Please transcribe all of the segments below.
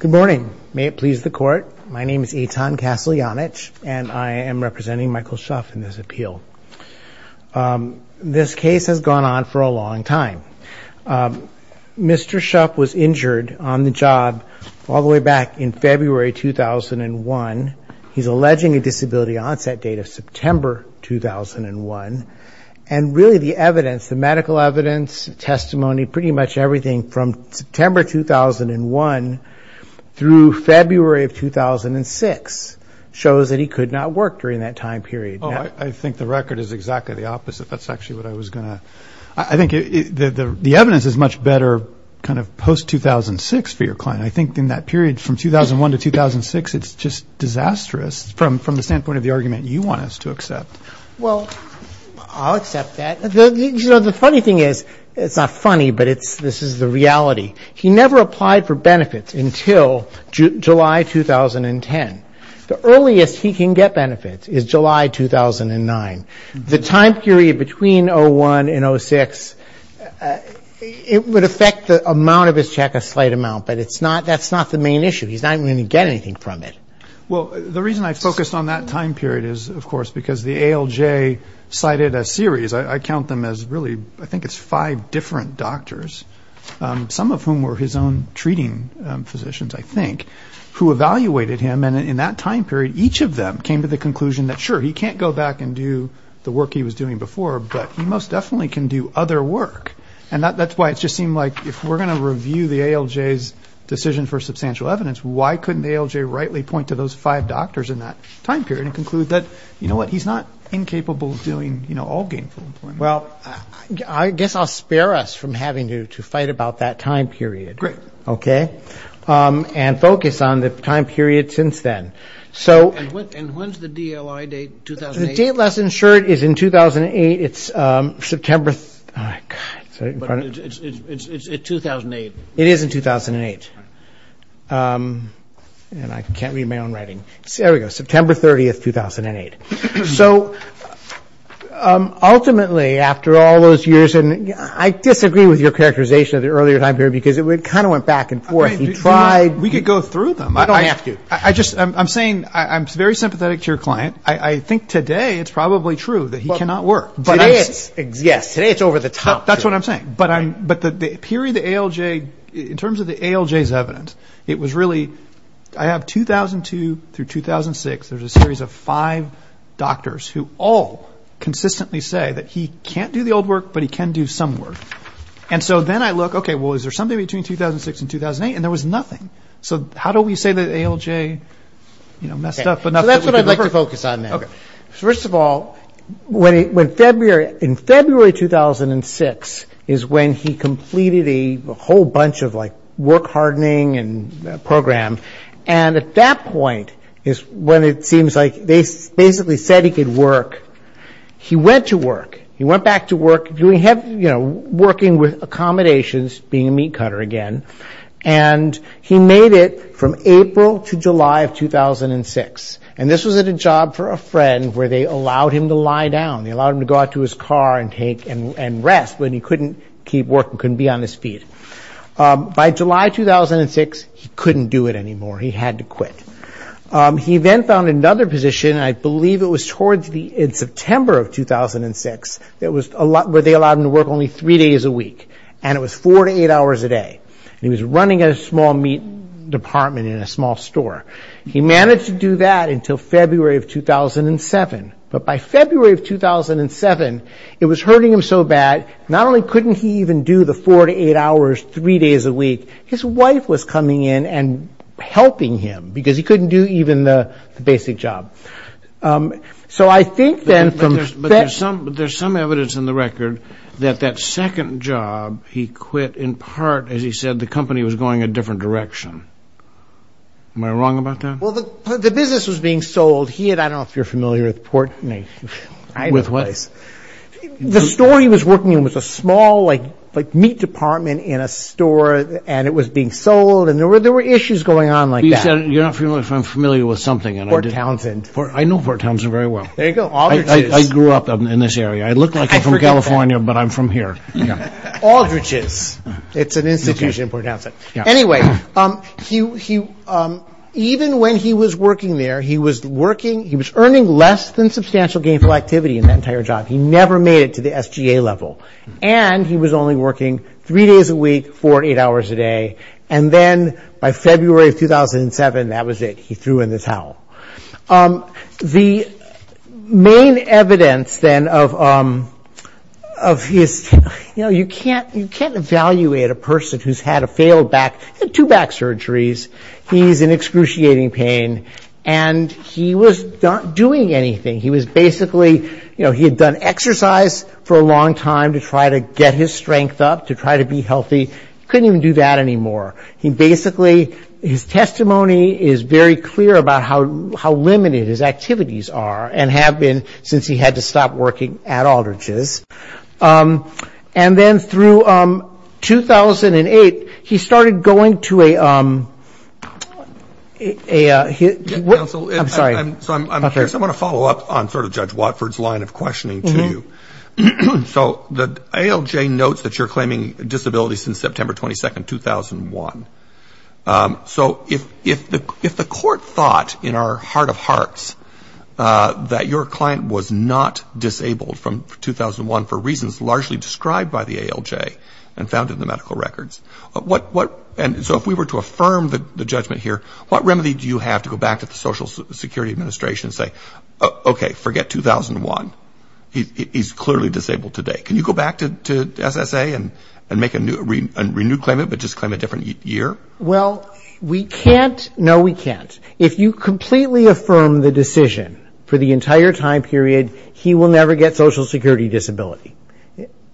Good morning. May it please the court. My name is Eitan Kaslyanich and I am representing Michael Shuff in this appeal. This case has gone on for a long time. Mr. Shuff was injured on the job all the way back in February 2001. He's alleging a disability onset date of September 2001. And really the evidence, the medical evidence, testimony, pretty much everything from September 2001 through February of 2006 shows that he could not work during that time period. Oh, I think the record is exactly the opposite. That's actually what I was going to – I think the evidence is much better kind of post-2006 for your client. I think in that period from 2001 to 2006 it's just disastrous from the standpoint of the argument you want us to accept. Well, I'll accept that. You know, the funny thing is, it's not funny, but this is the reality. He never applied for benefits until July 2010. The earliest he can get benefits is July 2009. The time period between 2001 and 2006, it would affect the amount of his check a slight amount, but that's not the main issue. He's not even going to get anything from it. Well, the reason I focused on that time period is, of course, because the ALJ cited a series. I count them as really – I think it's five different doctors, some of whom were his own treating physicians, I think, who evaluated him, and in that time period each of them came to the conclusion that, sure, he can't go back and do the work he was doing before, but he most definitely can do other work. And that's why it just seemed like if we're going to review the ALJ's decision for substantial evidence, why couldn't the ALJ rightly point to those five doctors in that time period and conclude that, you know what, he's not incapable of doing all gainful employment? Well, I guess I'll spare us from having to fight about that time period. Great. Okay? And focus on the time period since then. And when's the DLI date, 2008? The date less insured is in 2008. It's September – oh, my God. But it's 2008. It is in 2008. And I can't read my own writing. There we go. September 30, 2008. So ultimately, after all those years – and I disagree with your characterization of the earlier time period because it kind of went back and forth. He tried – We could go through them. You don't have to. I just – I'm saying I'm very sympathetic to your client. I think today it's probably true that he cannot work. Today it's – yes, today it's over the top. That's what I'm saying. But the period the ALJ – in terms of the ALJ's evidence, it was really – I have 2002 through 2006. There's a series of five doctors who all consistently say that he can't do the old work, but he can do some work. And so then I look, okay, well, is there something between 2006 and 2008? And there was nothing. So how do we say that ALJ, you know, messed up enough – So that's what I'd like to focus on now. Okay. First of all, when February – in February 2006 is when he completed a whole bunch of, like, work hardening and program. And at that point is when it seems like they basically said he could work. He went to work. He went back to work doing – you know, working with accommodations, being a meat cutter again. And he made it from April to July of 2006. And this was at a job for a friend where they allowed him to lie down. They allowed him to go out to his car and take – and rest when he couldn't keep working, couldn't be on his feet. By July 2006, he couldn't do it anymore. He had to quit. He then found another position, and I believe it was towards the – in September of 2006, where they allowed him to work only three days a week. And it was four to eight hours a day. And he was running a small meat department in a small store. He managed to do that until February of 2007. But by February of 2007, it was hurting him so bad, not only couldn't he even do the four to eight hours three days a week, his wife was coming in and helping him because he couldn't do even the basic job. So I think then from – But there's some evidence in the record that that second job he quit in part, as he said, the company was going a different direction. Am I wrong about that? Well, the business was being sold. He had – I don't know if you're familiar with Port – With what? The store he was working in was a small, like, meat department in a store, and it was being sold, and there were issues going on like that. You're not familiar with – I'm familiar with something. Port Townsend. I know Port Townsend very well. There you go, Aldrich's. I grew up in this area. I look like I'm from California, but I'm from here. Aldrich's. It's an institution in Port Townsend. Anyway, he – even when he was working there, he was working – he was earning less than substantial gainful activity in that entire job. He never made it to the SGA level. And he was only working three days a week, four to eight hours a day. And then by February of 2007, that was it. He threw in the towel. The main evidence, then, of his – you know, you can't evaluate a person who's had a failed back. He had two back surgeries. He's in excruciating pain, and he was not doing anything. He was basically – you know, he had done exercise for a long time to try to get his strength up, to try to be healthy. Couldn't even do that anymore. He basically – his testimony is very clear about how limited his activities are and have been since he had to stop working at Aldrich's. And then through 2008, he started going to a – I'm sorry. I'm curious. I want to follow up on sort of Judge Watford's line of questioning to you. So the ALJ notes that you're claiming disability since September 22, 2001. So if the court thought in our heart of hearts that your client was not disabled from 2001 for reasons largely described by the ALJ and found in the medical records, what – and so if we were to affirm the judgment here, what remedy do you have to go back to the Social Security Administration and say, okay, forget 2001. He's clearly disabled today. Can you go back to SSA and make a renewed claimant but just claim a different year? Well, we can't – no, we can't. If you completely affirm the decision for the entire time period, he will never get Social Security disability.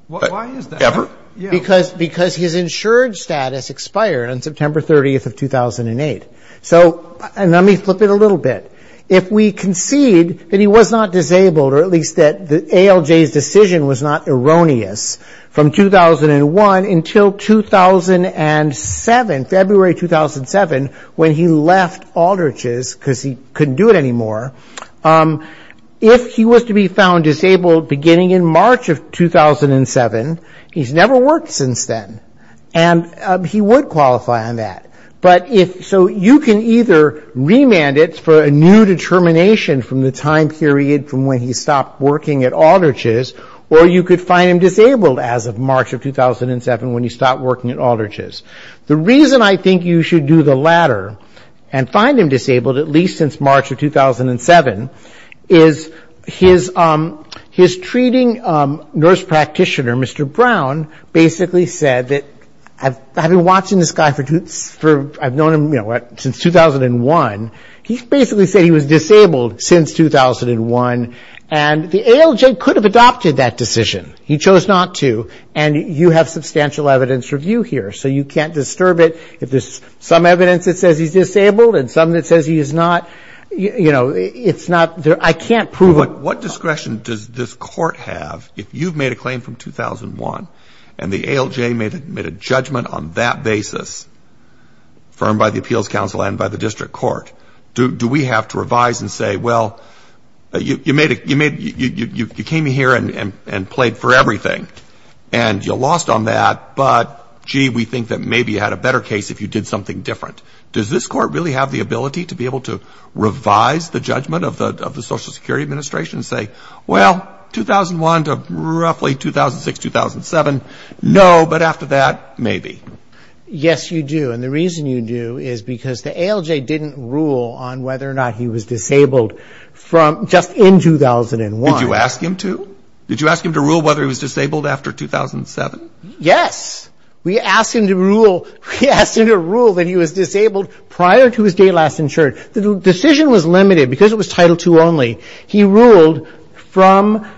Why is that? Ever? Because his insured status expired on September 30th of 2008. So – and let me flip it a little bit. If we concede that he was not disabled or at least that the ALJ's decision was not erroneous from 2001 until 2007, February 2007, when he left Aldrich's because he couldn't do it anymore, if he was to be found disabled beginning in March of 2007, he's never worked since then and he would qualify on that. But if – so you can either remand it for a new determination from the time period from when he stopped working at Aldrich's or you could find him disabled as of March of 2007 when he stopped working at Aldrich's. The reason I think you should do the latter and find him disabled at least since March of 2007 is his treating nurse practitioner, Mr. Brown, basically said that – I've been watching this guy for – I've known him since 2001. He basically said he was disabled since 2001 and the ALJ could have adopted that decision. He chose not to and you have substantial evidence review here. So you can't disturb it. If there's some evidence that says he's disabled and some that says he is not, you know, it's not – I can't prove it. But what discretion does this court have if you've made a claim from 2001 and the ALJ made a judgment on that basis affirmed by the appeals council and by the district court? Do we have to revise and say, well, you came here and played for everything and you lost on that, but, gee, we think that maybe you had a better case if you did something different. Does this court really have the ability to be able to revise the judgment of the Social Security Administration and say, well, 2001 to roughly 2006, 2007, no, but after that, maybe? Yes, you do, and the reason you do is because the ALJ didn't rule on whether or not he was disabled from just in 2001. Did you ask him to? Did you ask him to rule whether he was disabled after 2007? Yes. We asked him to rule that he was disabled prior to his date last insured. The decision was limited because it was Title II only. He ruled from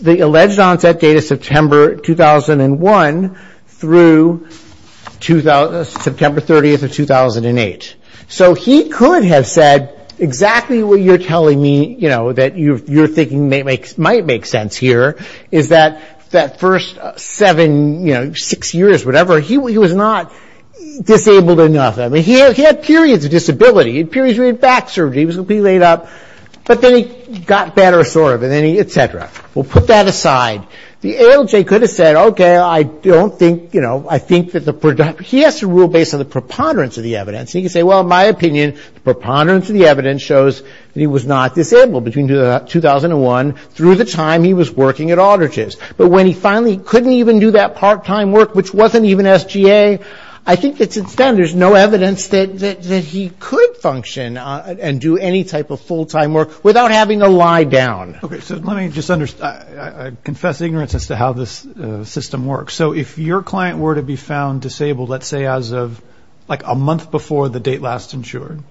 the alleged onset date of September 2001 through September 30th of 2008. So he could have said exactly what you're telling me, you know, what might make sense here is that first seven, six years, whatever, he was not disabled enough. I mean, he had periods of disability, periods where he had back surgery, he was completely laid up, but then he got better sort of, and then he, et cetera. Well, put that aside. The ALJ could have said, okay, I don't think, you know, I think that the, he has to rule based on the preponderance of the evidence, and he could say, well, in my opinion, the preponderance of the evidence shows that he was not disabled between 2001 through the time he was working at Autergis. But when he finally couldn't even do that part-time work, which wasn't even SGA, I think that since then there's no evidence that he could function and do any type of full-time work without having to lie down. Okay, so let me just, I confess ignorance as to how this system works. So if your client were to be found disabled, let's say, as of like a month before the date last insured,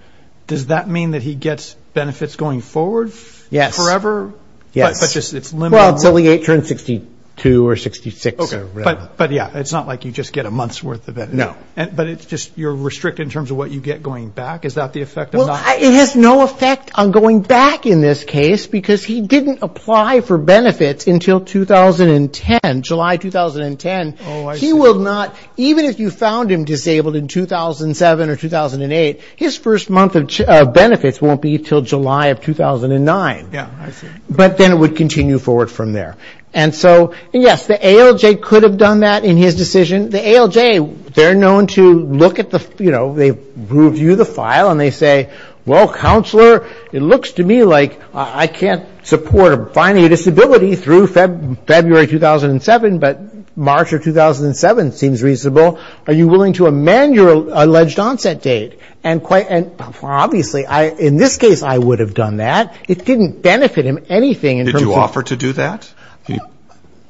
does that mean that he gets benefits going forward? Yes. Forever? Yes. But just it's limited? Well, until he turns 62 or 66. Okay. But, yeah, it's not like you just get a month's worth of benefits. No. But it's just you're restricted in terms of what you get going back? Is that the effect of not? Well, it has no effect on going back in this case because he didn't apply for benefits until 2010, July 2010. Oh, I see. He will not, even if you found him disabled in 2007 or 2008, his first month of benefits won't be until July of 2009. Yeah, I see. But then it would continue forward from there. And so, yes, the ALJ could have done that in his decision. The ALJ, they're known to look at the, you know, they review the file and they say, well, counselor, it looks to me like I can't support finding a disability through February 2007, but March of 2007 seems reasonable. Are you willing to amend your alleged onset date? And obviously, in this case, I would have done that. It didn't benefit him anything in terms of – Did you offer to do that?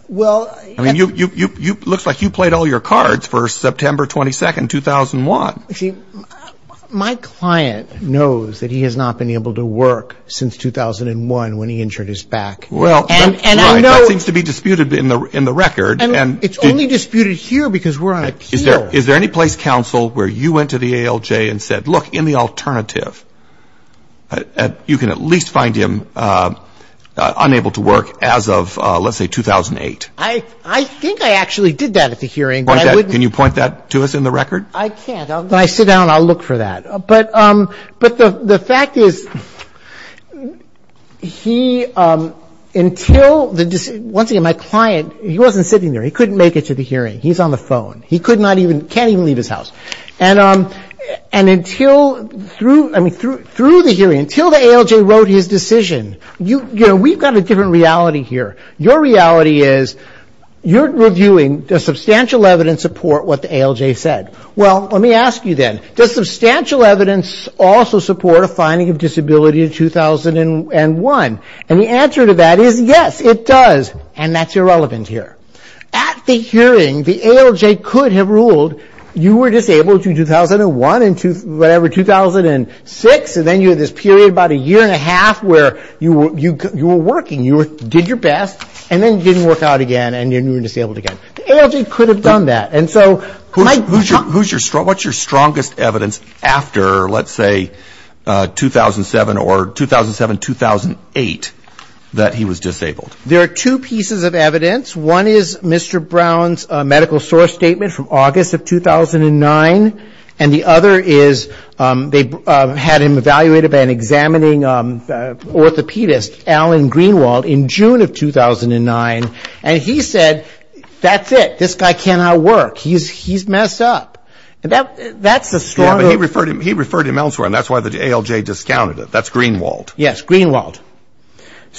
Well – I mean, it looks like you played all your cards for September 22, 2001. See, my client knows that he has not been able to work since 2001 when he injured his back. Right. That seems to be disputed in the record. And it's only disputed here because we're on appeal. Is there any place, counsel, where you went to the ALJ and said, look, in the alternative, you can at least find him unable to work as of, let's say, 2008? I think I actually did that at the hearing. Can you point that to us in the record? I can't. I'll sit down and I'll look for that. But the fact is he – until the – once again, my client, he wasn't sitting there. He couldn't make it to the hearing. He's on the phone. He could not even – can't even leave his house. And until – I mean, through the hearing, until the ALJ wrote his decision, you know, we've got a different reality here. Your reality is you're reviewing the substantial evidence support what the ALJ said. Well, let me ask you then. Does substantial evidence also support a finding of disability in 2001? And the answer to that is yes, it does. And that's irrelevant here. At the hearing, the ALJ could have ruled you were disabled in 2001 and whatever 2006, and then you had this period, about a year and a half, where you were working. You did your best, and then it didn't work out again, and then you were disabled again. The ALJ could have done that. Who's your – what's your strongest evidence after, let's say, 2007 or 2007-2008, that he was disabled? There are two pieces of evidence. One is Mr. Brown's medical source statement from August of 2009, and the other is they had him evaluated by an examining orthopedist, Alan Greenwald, in June of 2009, and he said, that's it. This guy cannot work. He's messed up. And that's the strong – Yeah, but he referred him elsewhere, and that's why the ALJ discounted it. That's Greenwald. Yes, Greenwald.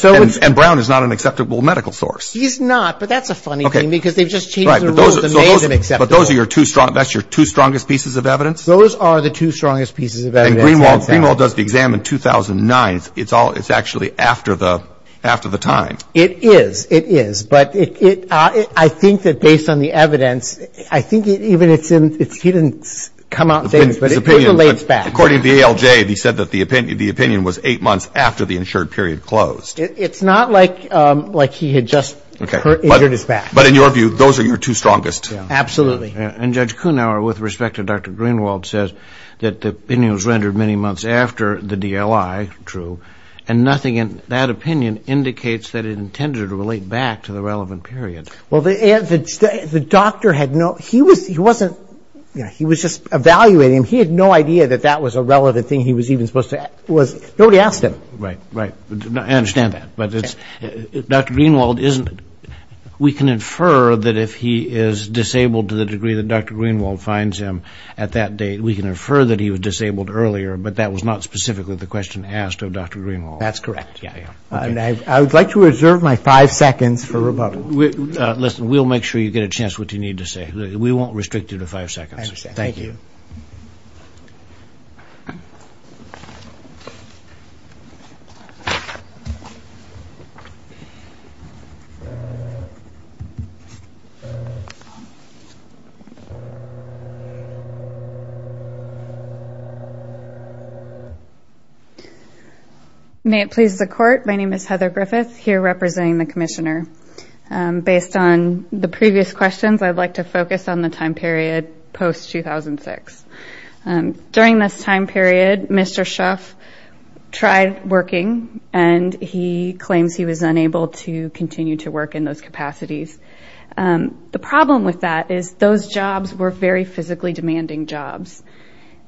And Brown is not an acceptable medical source. He's not, but that's a funny thing, because they've just changed the rules and made him acceptable. But those are your two – that's your two strongest pieces of evidence? Those are the two strongest pieces of evidence. And Greenwald does the exam in 2009. It's actually after the time. It is. It is. But I think that based on the evidence, I think even it's in – he didn't come out and say this, but it relates back. According to the ALJ, he said that the opinion was eight months after the insured period closed. It's not like he had just injured his back. But in your view, those are your two strongest. Absolutely. And Judge Kuhnhauer, with respect to Dr. Greenwald, says that the opinion was rendered many months after the DLI, true, and nothing in that opinion indicates that it intended to relate back to the relevant period. Well, the doctor had no – he wasn't – he was just evaluating him. He had no idea that that was a relevant thing he was even supposed to – nobody asked him. Right, right. I understand that. But it's – Dr. Greenwald isn't – we can infer that if he is disabled to the degree that Dr. Greenwald finds him at that date, we can infer that he was disabled earlier, but that was not specifically the question asked of Dr. Greenwald. That's correct. Yeah, yeah. I would like to reserve my five seconds for rebuttal. Listen, we'll make sure you get a chance what you need to say. We won't restrict you to five seconds. I understand. Thank you. May it please the Court, my name is Heather Griffith, here representing the Commissioner. Based on the previous questions, I'd like to focus on the time period post-2006. During this time period, Mr. Shuff tried working, and he claims he was unable to continue to work in those capacities. The problem with that is those jobs were very physically demanding jobs.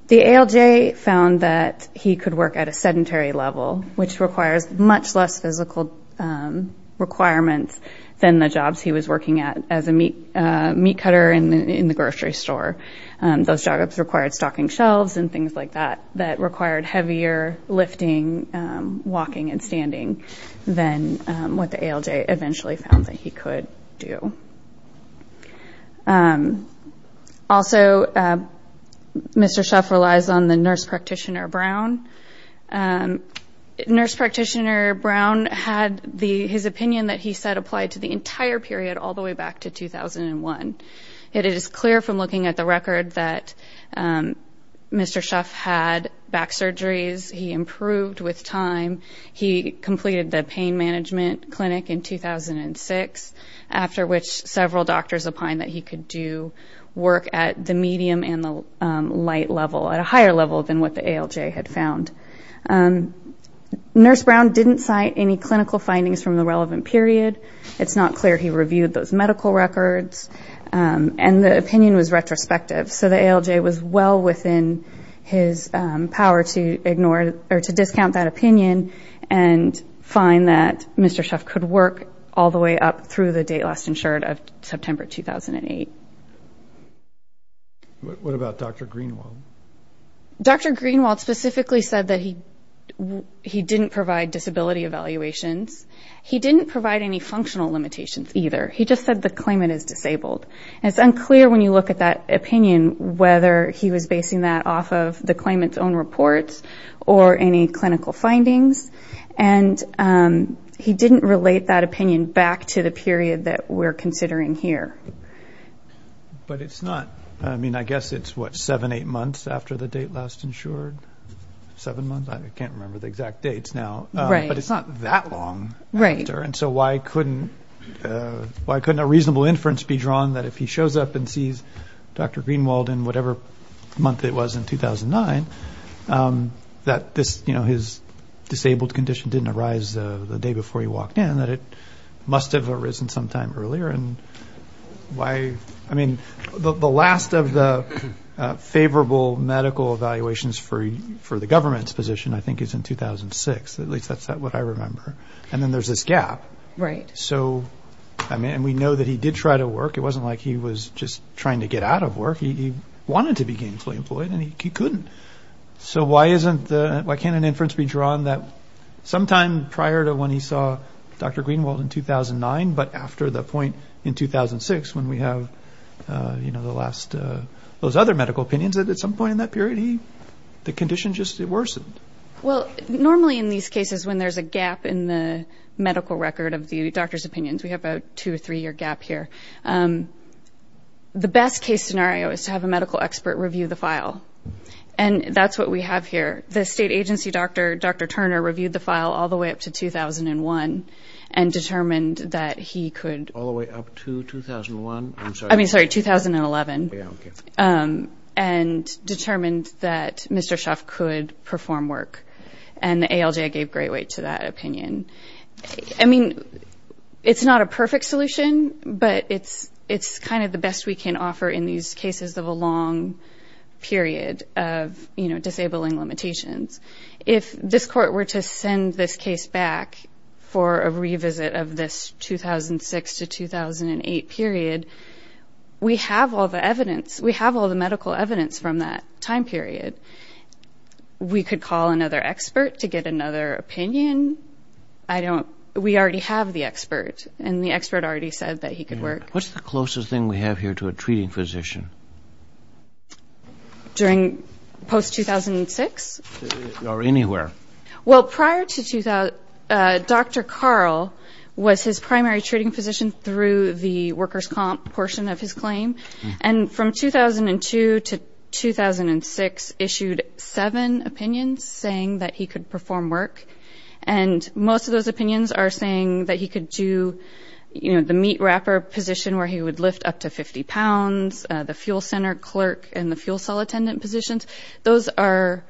The ALJ found that he could work at a sedentary level, which requires much less physical requirements than the jobs he was working at as a meat cutter in the grocery store. Those jobs required stocking shelves and things like that, that required heavier lifting, walking, and standing than what the ALJ eventually found that he could do. Also, Mr. Shuff relies on the nurse practitioner, Brown. Nurse practitioner Brown had his opinion that he said applied to the entire period all the way back to 2001. It is clear from looking at the record that Mr. Shuff had back surgeries. He improved with time. He completed the pain management clinic in 2006, after which several doctors opined that he could do work at the medium and the light level, at a higher level than what the ALJ had found. Nurse Brown didn't cite any clinical findings from the relevant period. It's not clear he reviewed those medical records, and the opinion was retrospective. So the ALJ was well within his power to ignore or to discount that opinion and find that Mr. Shuff could work all the way up through the date last insured of September 2008. What about Dr. Greenwald? Dr. Greenwald specifically said that he didn't provide disability evaluations. He didn't provide any functional limitations either. He just said the claimant is disabled. And it's unclear when you look at that opinion whether he was basing that off of the claimant's own reports or any clinical findings. And he didn't relate that opinion back to the period that we're considering here. But it's not, I mean, I guess it's, what, seven, eight months after the date last insured? Seven months? I can't remember the exact dates now. But it's not that long after. And so why couldn't a reasonable inference be drawn that if he shows up and sees Dr. Greenwald in whatever month it was in 2009, that his disabled condition didn't arise the day before he walked in, that it must have arisen some time earlier? I mean, the last of the favorable medical evaluations for the government's position, I think, is in 2006. At least that's what I remember. And then there's this gap. Right. So, I mean, and we know that he did try to work. It wasn't like he was just trying to get out of work. He wanted to be gainfully employed, and he couldn't. So why can't an inference be drawn that sometime prior to when he saw Dr. Greenwald in 2009, but after the point in 2006 when we have, you know, those other medical opinions, that at some point in that period the condition just worsened? Well, normally in these cases when there's a gap in the medical record of the doctor's opinions, we have a two- or three-year gap here, the best case scenario is to have a medical expert review the file. And that's what we have here. The state agency doctor, Dr. Turner, reviewed the file all the way up to 2001 and determined that he could. All the way up to 2001? I mean, sorry, 2011. Yeah, okay. And determined that Mr. Schaff could perform work. And the ALJ gave great weight to that opinion. I mean, it's not a perfect solution, but it's kind of the best we can offer in these cases of a long period of, you know, disabling limitations. If this court were to send this case back for a revisit of this 2006 to 2008 period, we have all the evidence. We have all the medical evidence from that time period. We could call another expert to get another opinion. We already have the expert, and the expert already said that he could work. What's the closest thing we have here to a treating physician? During post-2006? Or anywhere. Well, prior to 2000, Dr. Carl was his primary treating physician through the workers' comp portion of his claim. And from 2002 to 2006, issued seven opinions saying that he could perform work. And most of those opinions are saying that he could do, you know, the meat wrapper position where he would lift up to 50 pounds, the fuel center clerk and the fuel cell attendant positions. Those are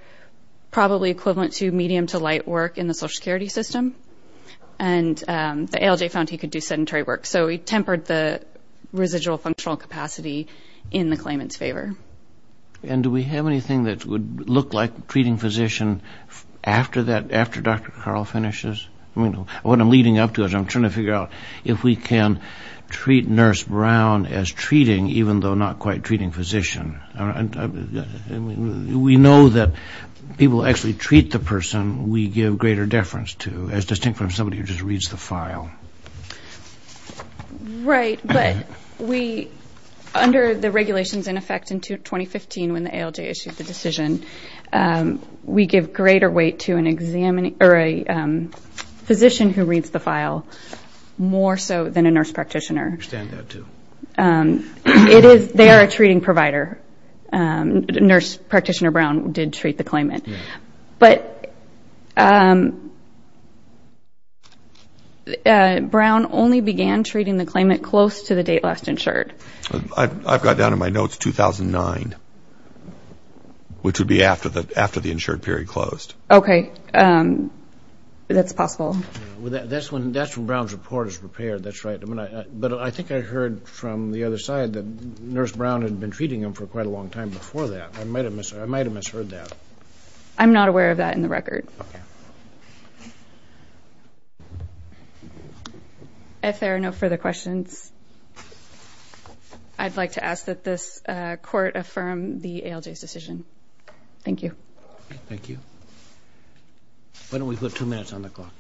probably equivalent to medium to light work in the Social Security system. And the ALJ found he could do sedentary work. So he tempered the residual functional capacity in the claimant's favor. And do we have anything that would look like treating physician after that, after Dr. Carl finishes? What I'm leading up to is I'm trying to figure out if we can treat Nurse Brown as treating, even though not quite treating physician. We know that people actually treat the person we give greater deference to as distinct from somebody who just reads the file. Right. But we, under the regulations in effect in 2015 when the ALJ issued the decision, we give greater weight to a physician who reads the file more so than a nurse practitioner. I understand that, too. They are a treating provider. Nurse practitioner Brown did treat the claimant. But Brown only began treating the claimant close to the date last insured. I've got down in my notes 2009, which would be after the insured period closed. Okay. That's possible. That's when Brown's report is prepared. That's right. But I think I heard from the other side that Nurse Brown had been treating him for quite a long time before that. I might have misheard that. I'm not aware of that in the record. If there are no further questions, I'd like to ask that this court affirm the ALJ's decision. Thank you. Thank you. Why don't we put two minutes on the clock?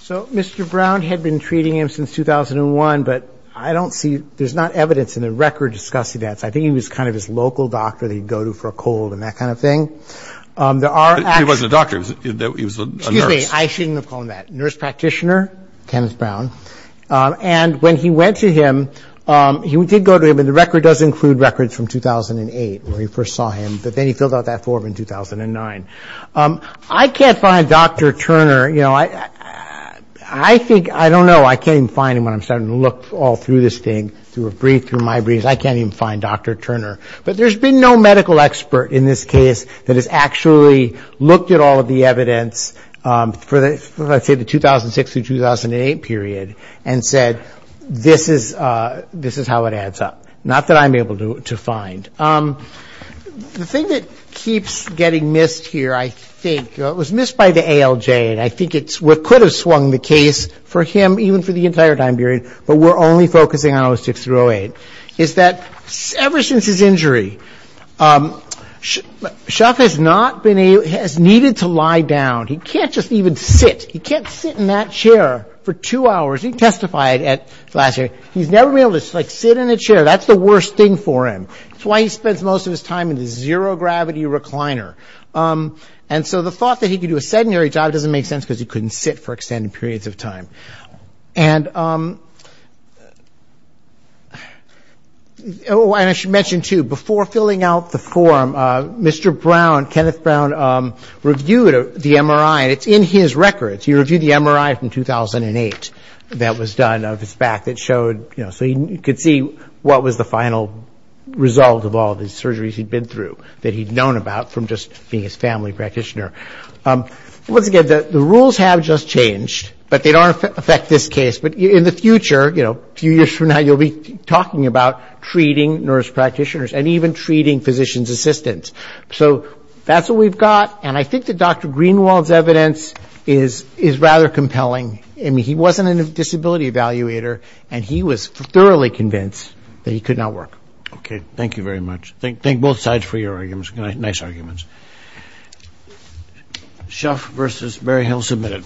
So Mr. Brown had been treating him since 2001. But I don't see – there's not evidence in the record discussing that. So I think he was kind of his local doctor that he'd go to for a cold and that kind of thing. He wasn't a doctor. He was a nurse. Excuse me. I shouldn't have called him that. Nurse practitioner, Kenneth Brown. And when he went to him, he did go to him. And the record does include records from 2008 where he first saw him. But then he filled out that form in 2009. I can't find Dr. Turner. You know, I think – I don't know. I can't even find him when I'm starting to look all through this thing, through a brief, through my briefs. I can't even find Dr. Turner. But there's been no medical expert in this case that has actually looked at all of the evidence for, let's say, the 2006 through 2008 period and said, this is how it adds up. Not that I'm able to find. The thing that keeps getting missed here, I think – it was missed by the ALJ, and I think it's what could have swung the case for him, even for the entire time period, but we're only focusing on 06 through 08, is that ever since his injury, Chuck has not been able – has needed to lie down. He can't just even sit. He can't sit in that chair for two hours. He testified last year. He's never been able to sit in a chair. That's the worst thing for him. It's why he spends most of his time in the zero-gravity recliner. And so the thought that he could do a sedentary job doesn't make sense because he couldn't sit for extended periods of time. And I should mention, too, before filling out the form, Mr. Brown, Kenneth Brown, reviewed the MRI. It's in his records. He reviewed the MRI from 2008 that was done of his back that showed – so he could see what was the final result of all the surgeries he'd been through that he'd known about from just being his family practitioner. Once again, the rules have just changed, but they don't affect this case. But in the future, a few years from now, you'll be talking about treating nurse practitioners and even treating physician's assistants. So that's what we've got. And I think that Dr. Greenwald's evidence is rather compelling. I mean, he wasn't a disability evaluator, and he was thoroughly convinced that he could not work. Okay. Thank you very much. Thank both sides for your arguments. Nice arguments. Shuff v. Berryhill, submitted.